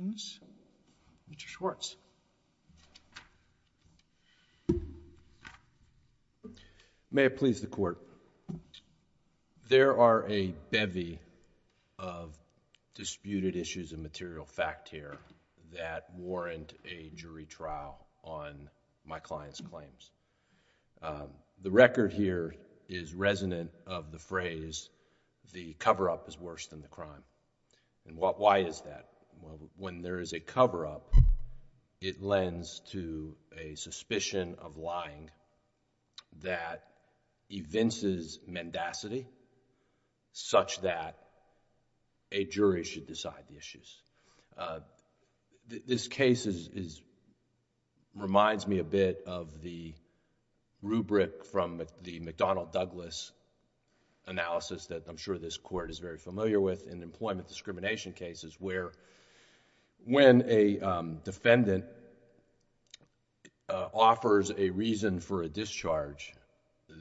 Mr. Schwartz. May it please the Court, there are a bevy of disputed issues of material fact here that warrant a jury trial on my client's claims. The record here is resonant of the phrase, the cover-up is worse than the crime. Why is that? Well, when there is a cover-up, it lends to a suspicion of lying that evinces mendacity such that a jury should decide the issues. This case reminds me a bit of the rubric from the McDonnell-Douglas analysis that I'm sure this Court is very familiar with in employment discrimination cases where when a defendant offers a reason for a discharge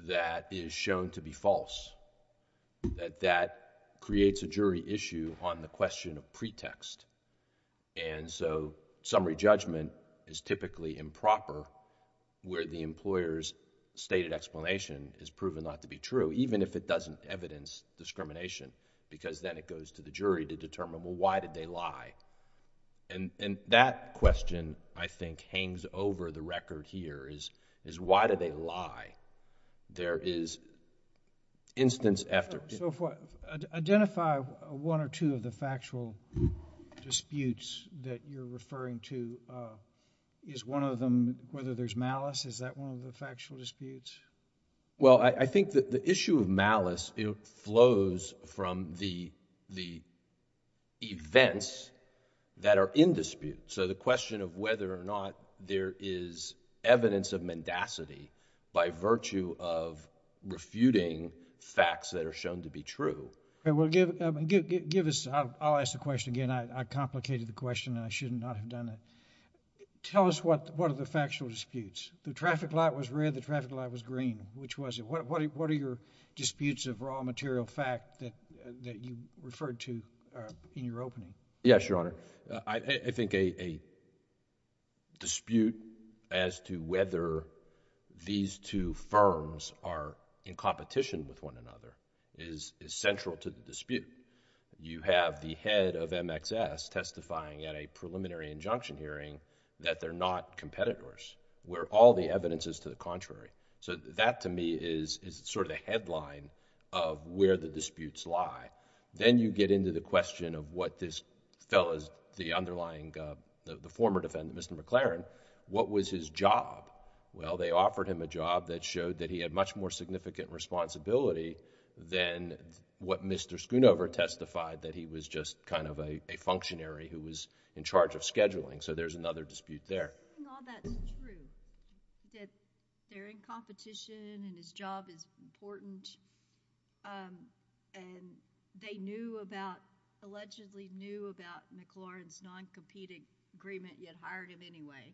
that is shown to be false, that that creates a jury issue on the question of pretext. Summary judgment is typically improper where the employer's stated explanation is proven not to be true, even if it doesn't evidence discrimination because then it goes to the jury to determine, well, why did they lie? And that question, I think, hangs over the record here is, why did they lie? There is instance after... So identify one or two of the factual disputes that you're referring to. Is one of them, whether there's malice, is that one of the factual disputes? Well, I think that the issue of malice, it flows from the events that are in dispute. So the question of whether or not there is evidence of mendacity by virtue of refuting facts that are shown to be true. Well, give us... I'll ask the question again. I complicated the question and I should not have done it. Tell us what are the factual disputes. The traffic light was red, the traffic light was green. Which was it? What are your disputes of raw material fact that you referred to in your opening? Yes, Your Honor. I think a dispute as to whether these two firms are in competition with one another is central to the dispute. You have the head of MXS testifying at a preliminary injunction hearing that they're not competitors. Where all the evidence is to the contrary. So that to me is sort of the headline of where the disputes lie. Then you get into the question of what this fellow, the underlying... the former defendant, Mr. McLaren, what was his job? Well, they offered him a job that showed that he had much more significant responsibility than what Mr. Schoonover testified that he was just kind of a functionary who was in charge of scheduling. So there's another dispute there. Isn't all that true, that they're in competition and his job is important and they knew about, allegedly knew about McLaren's non-competing agreement, yet hired him anyway?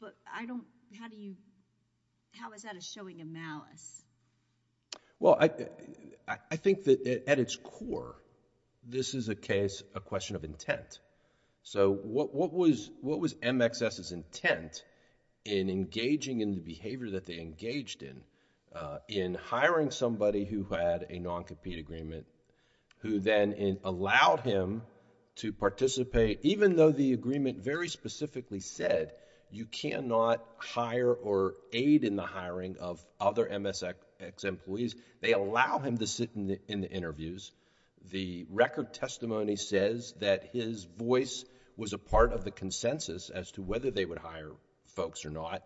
But I don't... how do you... how is that a showing of malice? Well, I think that at its core, this is a case, a question of intent. So what was MXS's intent in engaging in the behavior that they engaged in, in hiring somebody who had a non-compete agreement, who then allowed him to participate, even though the employees... they allow him to sit in the interviews. The record testimony says that his voice was a part of the consensus as to whether they would hire folks or not.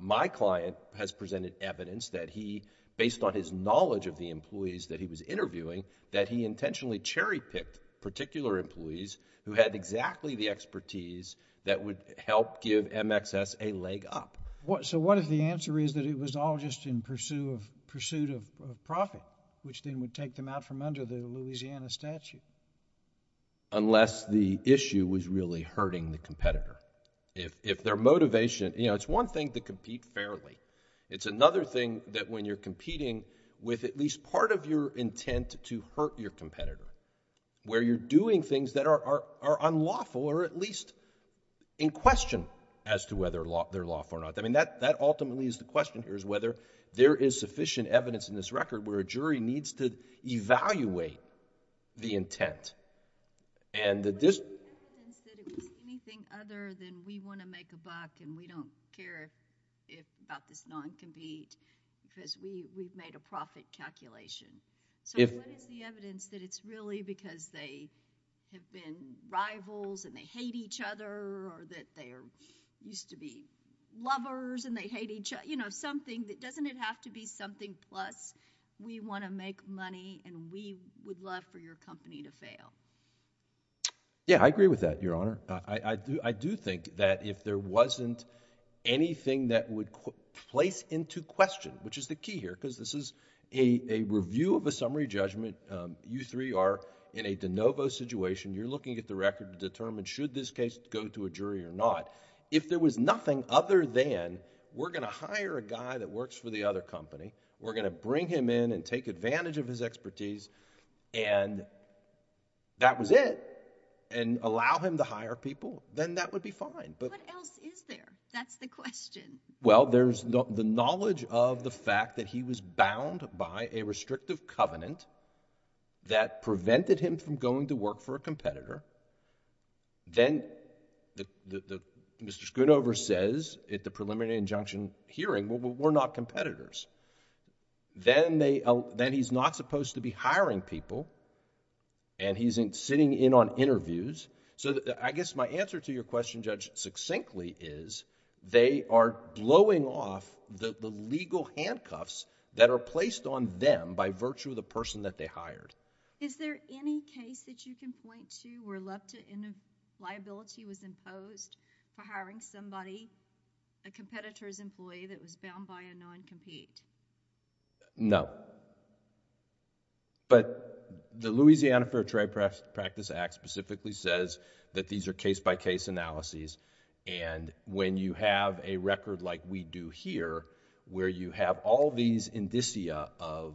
My client has presented evidence that he, based on his knowledge of the employees that he was interviewing, that he intentionally cherry-picked particular employees who had exactly the expertise that would help give MXS a leg up. So what if the answer is that it was all just in pursuit of profit, which then would take them out from under the Louisiana statute? Unless the issue was really hurting the competitor. If their motivation... you know, it's one thing to compete fairly. It's another thing that when you're competing with at least part of your intent to hurt your competitor, where you're doing things that are unlawful or at least in question as to whether they're lawful or not. I mean, that ultimately is the question here, is whether there is sufficient evidence in this record where a jury needs to evaluate the intent. And the... What is the evidence that it was anything other than we want to make a buck and we don't care about this non-compete because we've made a profit calculation? If... So what is the evidence that it's really because they have been rivals and they hate each other or that they used to be lovers and they hate each other? You know, something that... doesn't it have to be something plus we want to make money and we would love for your company to fail? Yeah, I agree with that, Your Honor. I do think that if there wasn't anything that would place into question, which is the key here because this is a review of a summary judgment, you three are in a de novo situation. You're looking at the record to determine should this case go to a jury or not. If there was nothing other than we're going to hire a guy that works for the other company, we're going to bring him in and take advantage of his expertise and that was it, and allow him to hire people, then that would be fine, but... What else is there? That's the question. Well, there's the knowledge of the fact that he was bound by a restrictive covenant that prevented him from going to work for a competitor. Then Mr. Schoonover says at the preliminary injunction hearing, well, we're not competitors. Then he's not supposed to be hiring people and he's sitting in on interviews. So I guess my answer to your question, Judge, succinctly is they are blowing off the legal handcuffs that are placed on them by virtue of the person that they hired. Is there any case that you can point to where liability was imposed for hiring somebody, a competitor's employee that was bound by a non-compete? No, but the Louisiana Fair Trade Practice Act specifically says that these are case by case analyses, and when you have a record like we do here, where you have all these indicia of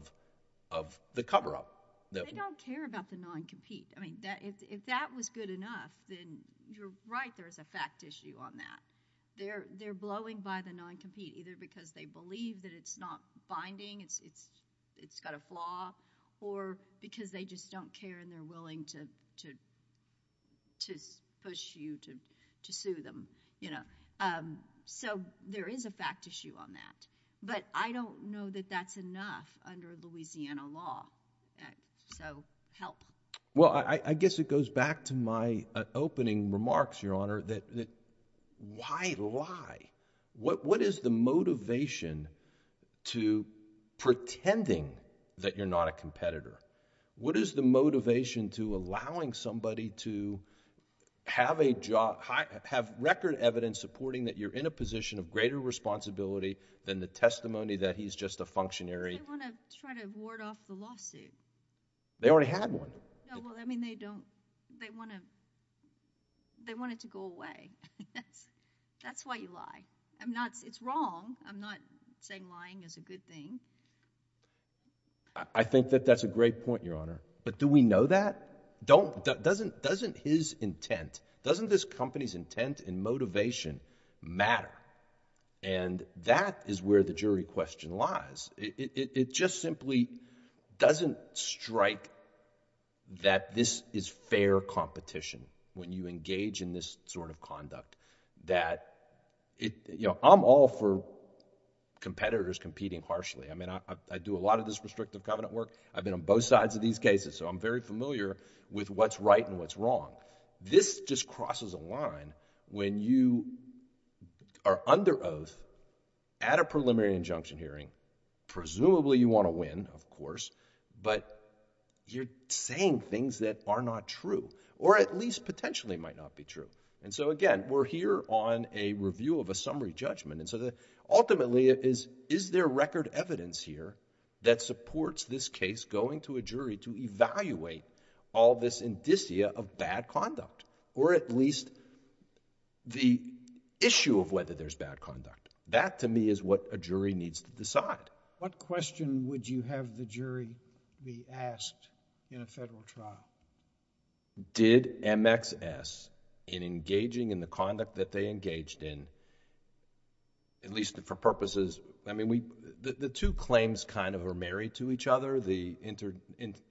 the cover-up... They don't care about the non-compete. I mean, if that was good enough, then you're right, there's a fact issue on that. They're blowing by the non-compete, either because they believe that it's not binding, it's got a flaw, or because they just don't care and they're willing to push you to sue them. So there is a fact issue on that, but I don't know that that's enough under Louisiana law, so help. Well, I guess it goes back to my opening remarks, Your Honor, that why lie? What is the motivation to pretending that you're not a competitor? What is the motivation to allowing somebody to have record evidence supporting that you're in a position of greater responsibility than the testimony that he's just a functionary... They want to try to ward off the lawsuit. They already had one. No, well, I mean, they don't... they want it to go away. That's why you lie. I'm not... it's wrong. I'm not saying lying is a good thing. I think that that's a great point, Your Honor, but do we know that? Doesn't his intent, doesn't this company's intent and motivation matter? And that is where the jury question lies. It just simply doesn't strike that this is fair competition when you engage in this sort of conduct, that it... you know, I'm all for competitors competing harshly. I mean, I do a lot of this restrictive covenant work. I've been on both sides of these cases, so I'm very familiar with what's right and what's wrong. This just crosses a line when you are under oath at a preliminary injunction hearing, presumably you want to win, of course, but you're saying things that are not true or at least potentially might not be true. And so again, we're here on a review of a summary judgment, and so ultimately, is there record evidence here that supports this case going to a jury to evaluate all this indicia of bad conduct or at least the issue of whether there's bad conduct? That to me is what a jury needs to decide. What question would you have the jury be asked in a federal trial? Did MXS, in engaging in the conduct that they engaged in, at least for purposes... I mean, the two claims kind of are married to each other, the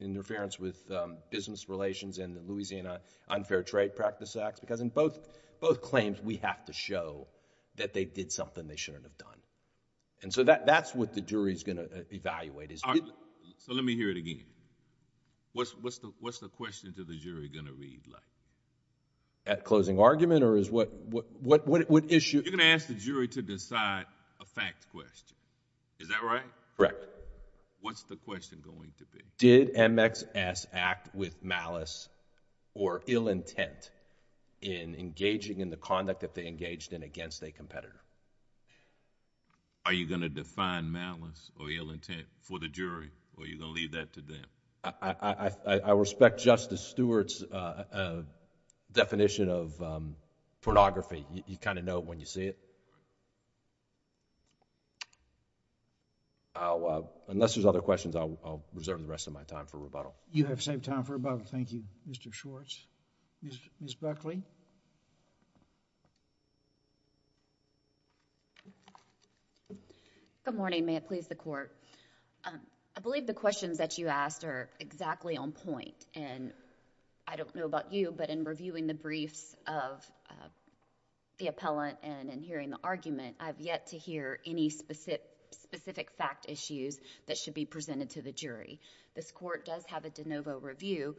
interference with business relations and the Louisiana Unfair Trade Practice Act, because in both claims, we have to show that they did something they shouldn't have done. And so that's what the jury's going to evaluate is... So let me hear it again. What's the question to the jury going to read like? At closing argument or is what issue... You're going to ask the jury to decide a fact question, is that right? Correct. What's the question going to be? Did MXS act with malice or ill intent in engaging in the conduct that they engaged in against a competitor? Are you going to define malice or ill intent for the jury or are you going to leave that to them? I respect Justice Stewart's definition of pornography. You kind of know it when you see it. Unless there's other questions, I'll reserve the rest of my time for rebuttal. You have saved time for rebuttal. Thank you, Mr. Schwartz. Ms. Buckley? Good morning. May it please the Court. I believe the questions that you asked are exactly on point and I don't know about you but in reviewing the briefs of the appellant and in hearing the argument, I've yet to hear any specific fact issues that should be presented to the jury. This Court does have a de novo review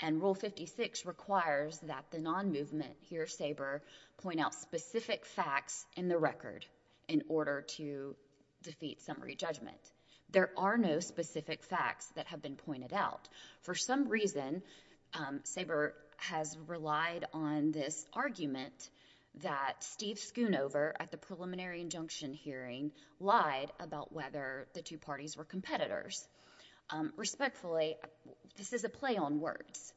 and Rule 56 requires that the non-movement hear Saber point out specific facts in the record in order to defeat summary judgment. There are no specific facts that have been pointed out. For some reason, Saber has relied on this argument that Steve Schoonover at the preliminary injunction hearing lied about whether the two parties were competitors. Respectfully, this is a play on words.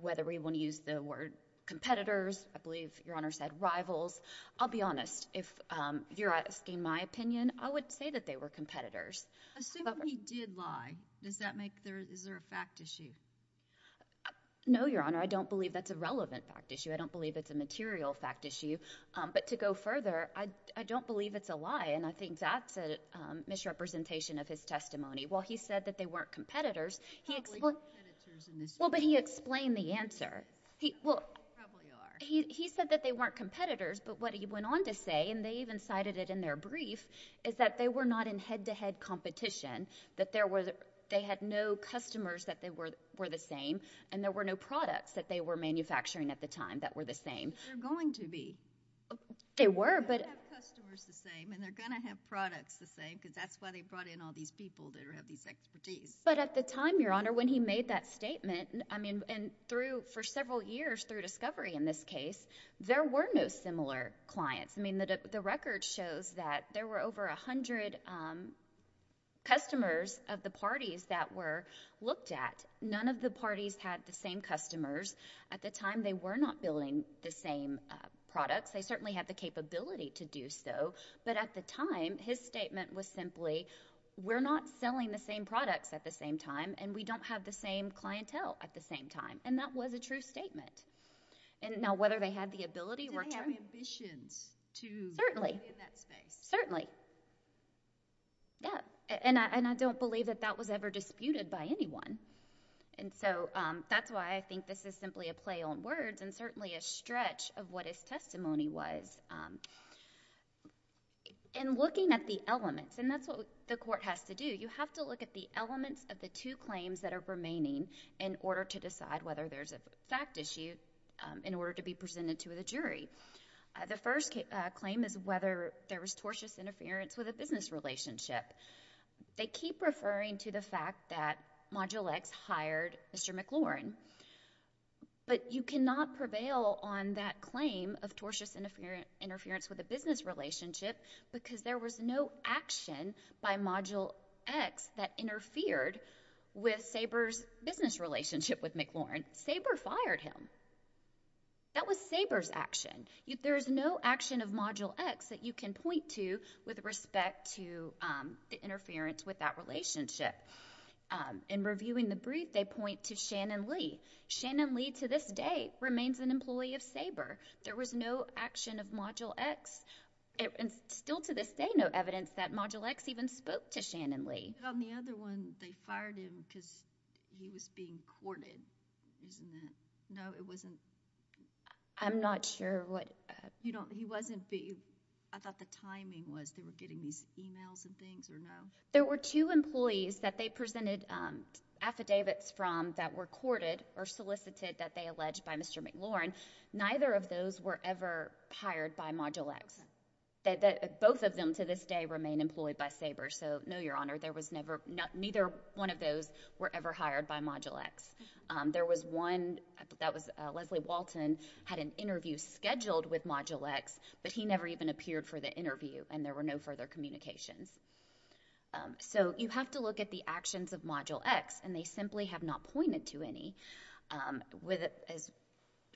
Whether we want to use the word competitors, I believe Your Honor said rivals, I'll be honest. If you're asking my opinion, I would say that they were competitors. Assuming he did lie, is there a fact issue? No, Your Honor. I don't believe that's a relevant fact issue. I don't believe it's a material fact issue. To go further, I don't believe it's a lie and I think that's a misrepresentation of his testimony. While he said that they weren't competitors, he explained the answer. He said that they weren't competitors but what he went on to say, and they even cited it in their brief, is that they were not in head-to-head competition. They had no customers that they were the same and there were no products that they were the same. They're going to be. They were but... They're going to have customers the same and they're going to have products the same because that's why they brought in all these people that have these expertise. But at the time, Your Honor, when he made that statement, I mean, and through, for several years through discovery in this case, there were no similar clients. I mean, the record shows that there were over a hundred customers of the parties that were looked at. None of the parties had the same customers. At the time, they were not building the same products. They certainly had the capability to do so but at the time, his statement was simply, we're not selling the same products at the same time and we don't have the same clientele at the same time. That was a true statement. Now, whether they had the ability or... Do they have ambitions to... Certainly.... play in that space? Certainly. Yeah. I don't believe that that was ever disputed by anyone. And so that's why I think this is simply a play on words and certainly a stretch of what his testimony was. In looking at the elements, and that's what the court has to do, you have to look at the elements of the two claims that are remaining in order to decide whether there's a fact issue in order to be presented to the jury. The first claim is whether there was tortious interference with a business relationship. They keep referring to the fact that Module X hired Mr. McLaurin but you cannot prevail on that claim of tortious interference with a business relationship because there was no action by Module X that interfered with Saber's business relationship with McLaurin. Saber fired him. That was Saber's action. There is no action of Module X that you can point to with respect to the interference with that relationship. In reviewing the brief, they point to Shannon Lee. Shannon Lee, to this day, remains an employee of Saber. There was no action of Module X, and still to this day, no evidence that Module X even spoke to Shannon Lee. On the other one, they fired him because he was being courted, isn't it? No, it wasn't. I'm not sure what... He wasn't being... I thought the timing was they were getting these emails and things, or no? There were two employees that they presented affidavits from that were courted or solicited that they alleged by Mr. McLaurin. Neither of those were ever hired by Module X. Both of them, to this day, remain employed by Saber, so no, Your Honor, there was never... neither one of those were ever hired by Module X. There was one that was... Leslie Walton had an interview scheduled with Module X, but he never even appeared for the interview, and there were no further communications. So you have to look at the actions of Module X, and they simply have not pointed to any. As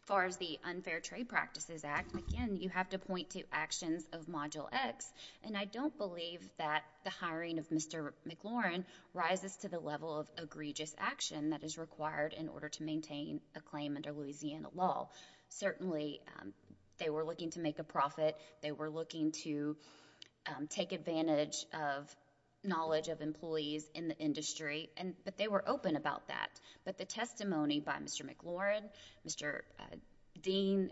far as the Unfair Trade Practices Act, again, you have to point to actions of Module X, and I don't believe that the hiring of Mr. McLaurin rises to the level of egregious action that is required in order to maintain a claim under Louisiana law. Certainly, they were looking to make a profit. They were looking to take advantage of knowledge of employees in the industry, but they were open about that. But the testimony by Mr. McLaurin, Mr. Dean,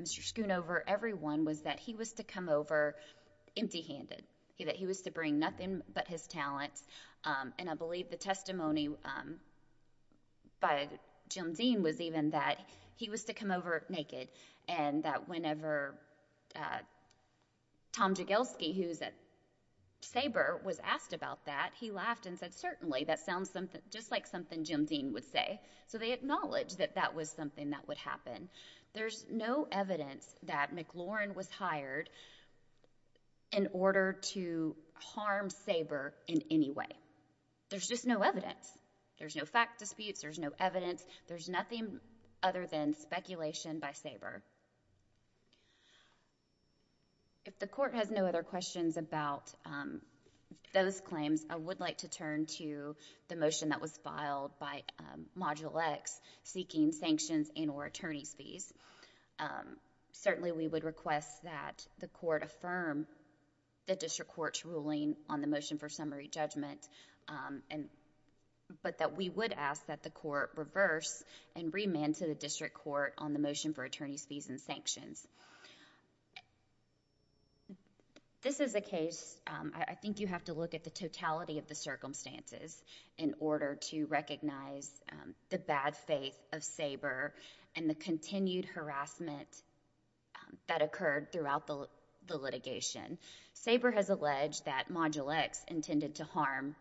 Mr. Schoonover, everyone, was that he was to come over empty-handed, that he was to bring nothing but his talents, and I believe the testimony by Jim Dean was even that he was to come over naked, and that whenever Tom Jagielski, who's at SABRE, was asked about that, he laughed and said, certainly, that sounds just like something Jim Dean would say. So they acknowledged that that was something that would happen. There's no evidence that McLaurin was hired in order to harm SABRE in any way. There's just no evidence. There's no fact disputes. There's no evidence. There's nothing other than speculation by SABRE. If the Court has no other questions about those claims, I would like to turn to the motion that was filed by Module X, seeking sanctions and or attorney's fees. Certainly, we would request that the Court affirm the district court's ruling on the motion, but that we would ask that the Court reverse and remand to the district court on the motion for attorney's fees and sanctions. This is a case... I think you have to look at the totality of the circumstances in order to recognize the bad faith of SABRE and the continued harassment that occurred throughout the litigation. SABRE has alleged that Module X intended to harm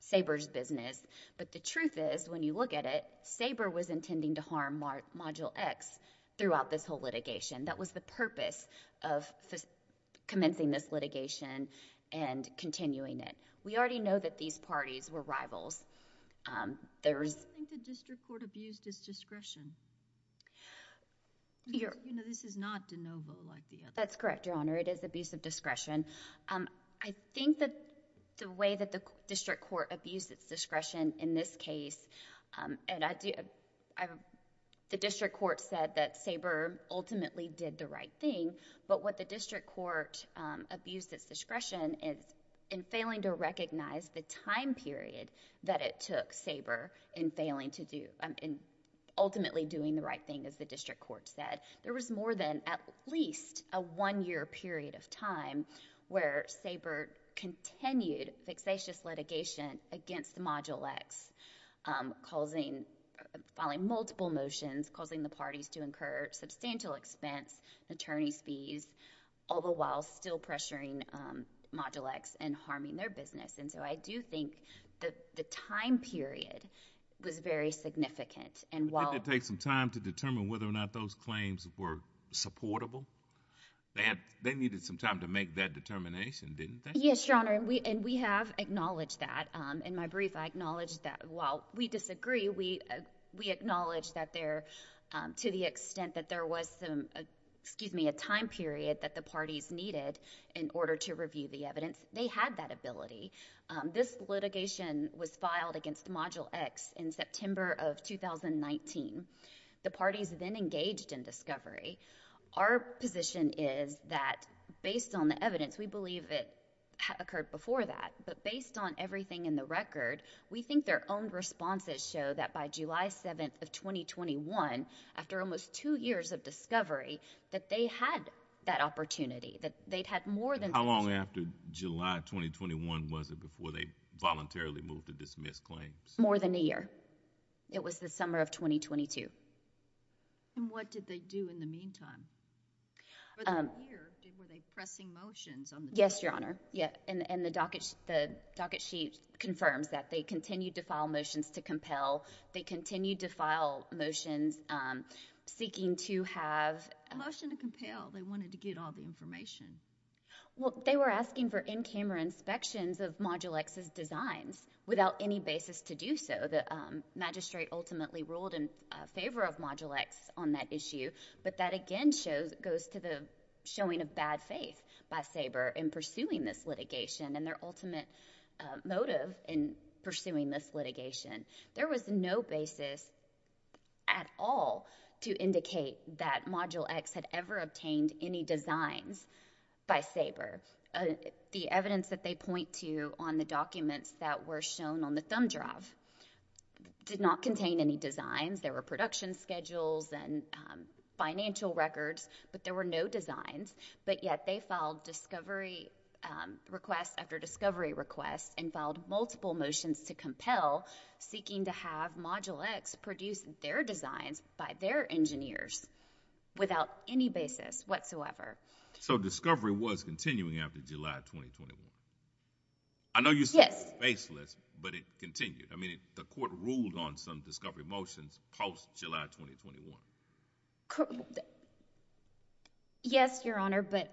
SABRE's business, but the truth is, when you look at it, SABRE was intending to harm Module X throughout this whole litigation. That was the purpose of commencing this litigation and continuing it. We already know that these parties were rivals. There was... I don't think the district court abused its discretion. You know, this is not de novo like the other... That's correct, Your Honor. It is abuse of discretion. I think that the way that the district court abused its discretion in this case... and the district court said that SABRE ultimately did the right thing, but what the district court abused its discretion is in failing to recognize the time period that it took SABRE in ultimately doing the right thing, as the district court said, there was more than at least a one-year period of time where SABRE continued fixatious litigation against Module X, causing... filing multiple motions, causing the parties to incur substantial expense, attorney's fees, all the while still pressuring Module X and harming their business. I do think that the time period was very significant and while... The parties were supportable. They needed some time to make that determination, didn't they? Yes, Your Honor, and we have acknowledged that. In my brief, I acknowledged that while we disagree, we acknowledge that there... to the extent that there was some... excuse me, a time period that the parties needed in order to review the evidence, they had that ability. This litigation was filed against Module X in September of 2019. The parties then engaged in discovery. Our position is that based on the evidence, we believe it occurred before that, but based on everything in the record, we think their own responses show that by July 7th of 2021, after almost two years of discovery, that they had that opportunity, that they'd had more than... How long after July 2021 was it before they voluntarily moved to dismiss claims? More than a year. It was the summer of 2022. And what did they do in the meantime? For the year, were they pressing motions on the... Yes, Your Honor. Yeah, and the docket sheet confirms that. They continued to file motions to compel. They continued to file motions seeking to have... A motion to compel. They wanted to get all the information. Well, they were asking for in-camera inspections of Module X's designs without any basis to do so. The magistrate ultimately ruled in favor of Module X on that issue, but that again goes to the showing of bad faith by Saber in pursuing this litigation and their ultimate motive in pursuing this litigation. There was no basis at all to indicate that Module X had ever obtained any designs by Saber. The evidence that they point to on the documents that were shown on the thumb drive did not contain any designs. There were production schedules and financial records, but there were no designs. But yet they filed discovery requests after discovery requests and filed multiple motions to compel seeking to have Module X produce their designs by their engineers without any basis whatsoever. So discovery was continuing after July 2021? I know you said it was baseless, but it continued. The court ruled on some discovery motions post-July 2021? Yes, Your Honor, but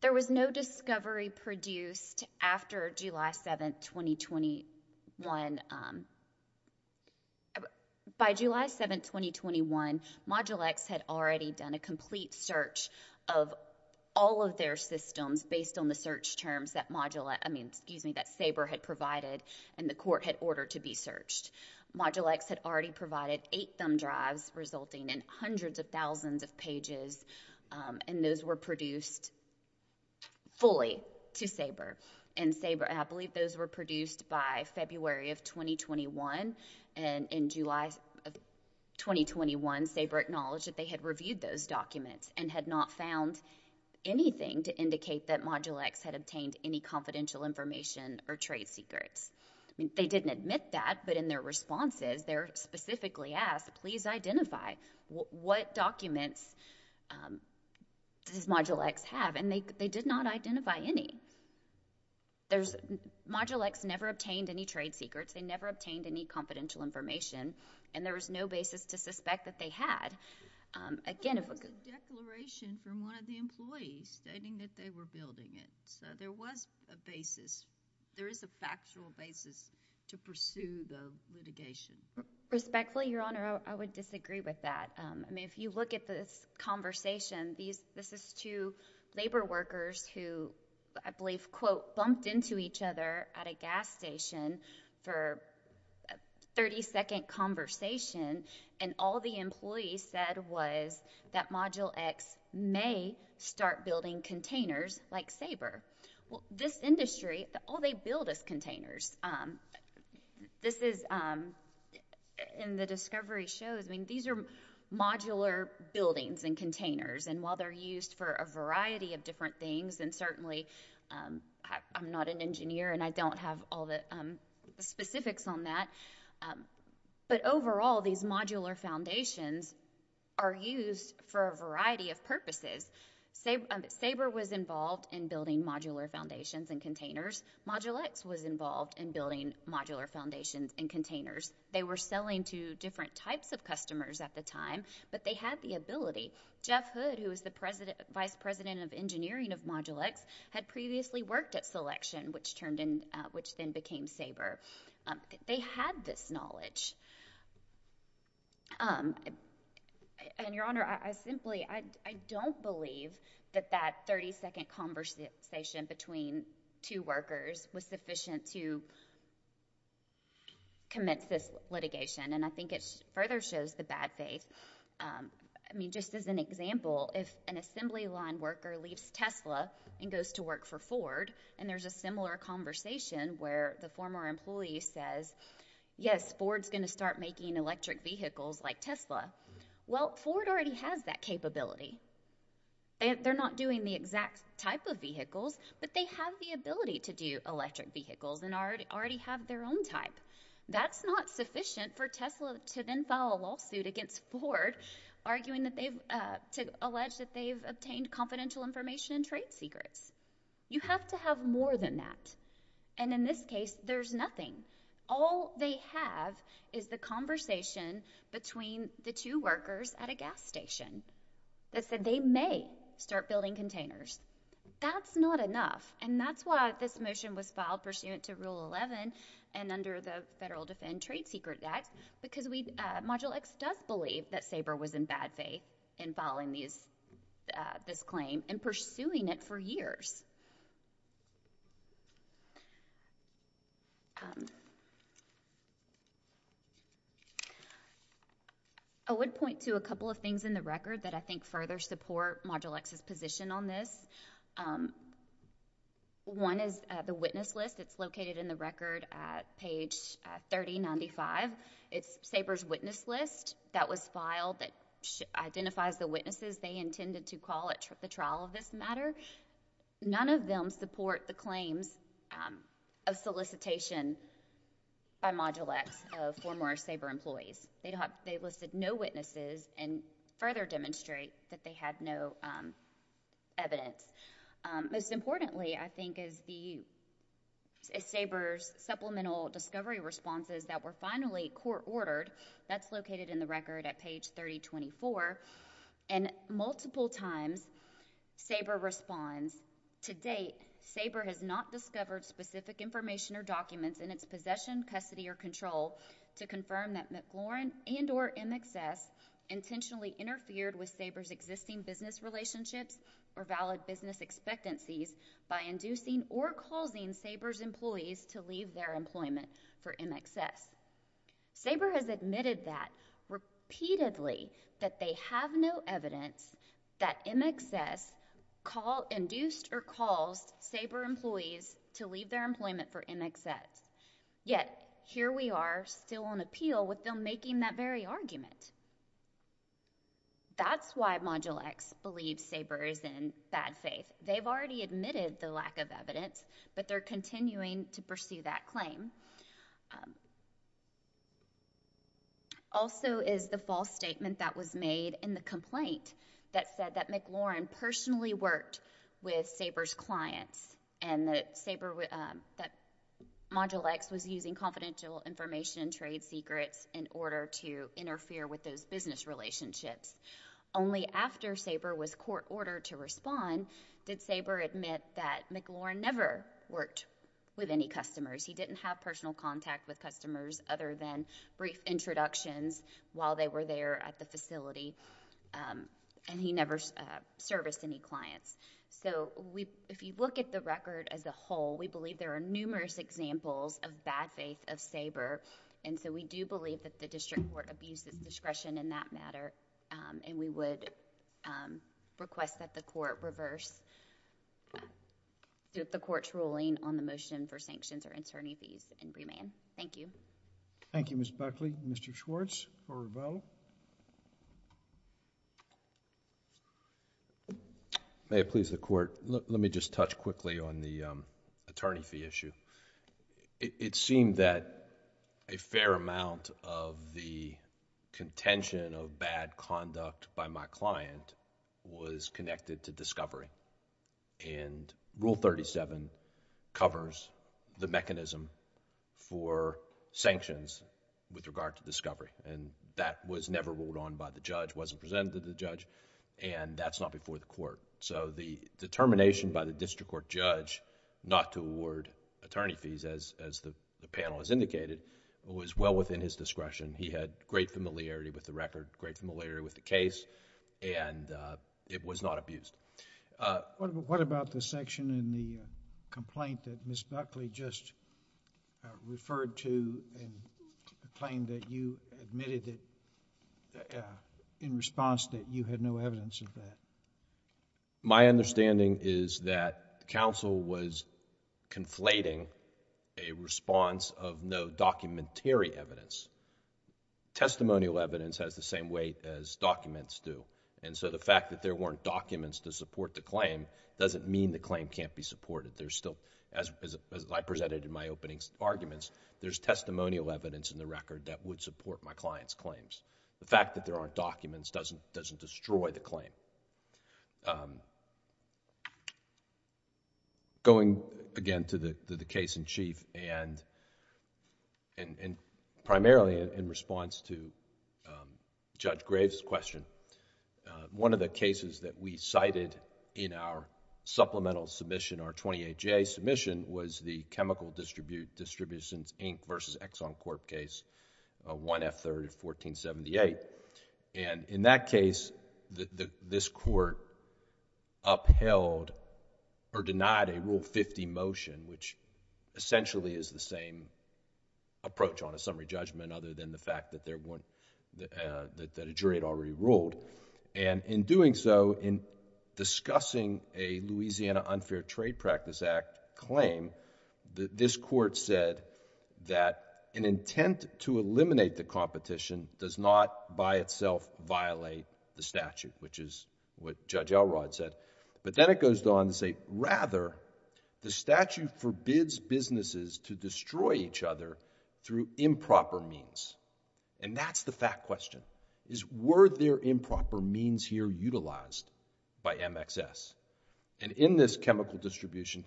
there was no discovery produced after July 7, 2021. By July 7, 2021, Module X had already done a complete search of all of their systems based on the search terms that Saber had provided and the court had ordered to be searched. Module X had already provided eight thumb drives resulting in hundreds of thousands of pages, and those were produced fully to Saber, and I believe those were produced by February of 2021, and in July of 2021, Saber acknowledged that they had reviewed those documents and had not found anything to indicate that Module X had obtained any confidential information or trade secrets. They didn't admit that, but in their responses, they're specifically asked, please identify what documents does Module X have, and they did not identify any. Module X never obtained any trade secrets. They never obtained any confidential information, and there was no basis to suspect that they had. Again, it was a declaration from one of the employees stating that they were building it, so there was a basis. There is a factual basis to pursue the litigation. Respectfully, Your Honor, I would disagree with that. If you look at this conversation, this is two labor workers who, I believe, quote, bumped into each other at a gas station for a 30-second conversation, and all the employee said was that Module X may start building containers like Saber. This industry, all they build is containers. This is, and the discovery shows, I mean, these are modular buildings and containers, and while they're used for a variety of different things, and certainly, I'm not an engineer and I don't have all the specifics on that, but overall, these modular foundations are used for a variety of purposes. Saber was involved in building modular foundations and containers. Module X was involved in building modular foundations and containers. They were selling to different types of customers at the time, but they had the ability. Jeff Hood, who was the Vice President of Engineering of Module X, had previously worked at Selection, which then became Saber. They had this knowledge, and Your Honor, I simply, I don't believe that that 30-second conversation between two workers was sufficient to commence this litigation, and I think it further shows the bad faith. I mean, just as an example, if an assembly line worker leaves Tesla and goes to work for Ford, and there's a similar conversation where the former employee says, yes, Ford's going to start making electric vehicles like Tesla. Well, Ford already has that capability. They're not doing the exact type of vehicles, but they have the ability to do electric vehicles and already have their own type. That's not sufficient for Tesla to then file a lawsuit against Ford, arguing that they've, to allege that they've obtained confidential information and trade secrets. You have to have more than that, and in this case, there's nothing. All they have is the conversation between the two workers at a gas station that said they may start building containers. That's not enough, and that's why this motion was filed pursuant to Rule 11 and under the Federal Defend Trade Secret Act, because Module X does believe that Saber was in bad faith in filing this claim and pursuing it for years. I would point to a couple of things in the record that I think further support Module X's position on this. One is the witness list. It's located in the record at page 3095. It's Saber's witness list that was filed that identifies the witnesses they intended to call at the trial of this matter. None of them support the claims of solicitation by Module X of former Saber employees. They listed no witnesses and further demonstrate that they had no evidence. Most importantly, I think, is the Saber's supplemental discovery responses that were finally court-ordered. That's located in the record at page 3024. Multiple times, Saber responds, to date, Saber has not discovered specific information or documents in its possession, custody, or control to confirm that McLaurin and or MXS intentionally interfered with Saber's existing business relationships or valid business expectancies by inducing or causing Saber's employees to leave their employment for MXS. Saber has admitted that repeatedly that they have no evidence that MXS induced or caused Saber employees to leave their employment for MXS. Yet, here we are still on appeal with them making that very argument. That's why Module X believes Saber is in bad faith. They've already admitted the lack of evidence, but they're continuing to pursue that claim. Also is the false statement that was made in the complaint that said that McLaurin personally worked with Saber's clients and that Module X was using confidential information and trade secrets in order to interfere with those business relationships. Only after Saber was court ordered to respond did Saber admit that McLaurin never worked with any customers. He didn't have personal contact with customers other than brief introductions while they were there at the facility, and he never serviced any clients. If you look at the record as a whole, we believe there are numerous examples of bad faith of the McLaurin family. We would request that the court reverse the court's ruling on the motion for sanctions or attorney fees and remand. Thank you. Thank you, Ms. Buckley. Mr. Schwartz for rebuttal. May it please the court, let me just touch quickly on the attorney fee issue. It seemed that a fair amount of the contention of bad conduct by my client was connected to discovery, and Rule 37 covers the mechanism for sanctions with regard to discovery. That was never ruled on by the judge, wasn't presented to the judge, and that's not before the court. The determination by the district court judge not to award attorney fees as the panel has indicated was well within his discretion. He had great familiarity with the record, great familiarity with the case, and it was not abused. What about the section in the complaint that Ms. Buckley just referred to and claimed that you admitted it in response that you had no evidence of that? My understanding is that counsel was conflating a response of no documentary evidence. Testimonial evidence has the same weight as documents do, and so the fact that there weren't documents to support the claim doesn't mean the claim can't be supported. There's still, as I presented in my opening arguments, there's testimonial evidence in the record that would support my client's claims. The fact that there aren't documents doesn't destroy the claim. Going again to the case in chief and primarily in response to Judge Graves' question, one of the cases that we cited in our supplemental submission, our 28-J submission, was the Chemical Distributions, Inc. v. Exxon Corp. case, 1F3rd of 1478. In that case, this court upheld or denied a Rule 50 motion, which essentially is the same approach on a summary judgment other than the fact that a jury had already ruled. And in doing so, in discussing a Louisiana Unfair Trade Practice Act claim, this court said that an intent to eliminate the competition does not by itself violate the statute, which is what Judge Elrod said. But then it goes on to say, rather, the statute forbids businesses to destroy each other through improper means. And that's the fact question, is were there improper means here utilized by MXS? In this chemical distribution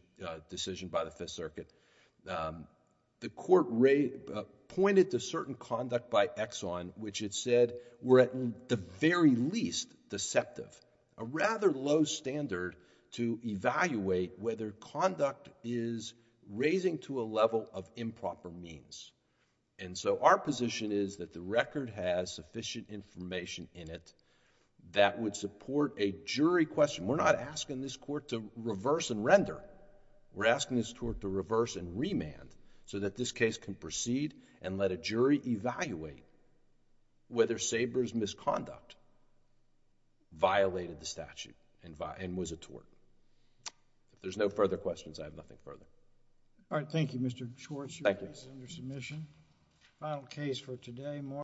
decision by the Fifth Circuit, the court pointed to certain conduct by Exxon, which it said were at the very least deceptive, a rather low standard to evaluate whether conduct is raising to a level of improper means. And so, our position is that the record has sufficient information in it that would support a jury question. We're not asking this court to reverse and render. We're asking this court to reverse and remand so that this case can proceed and let a jury evaluate whether Sabre's misconduct violated the statute and was a tort. If there's no further questions, I have nothing further. All right, thank you, Mr. Schwartz. Thank you. You're under submission.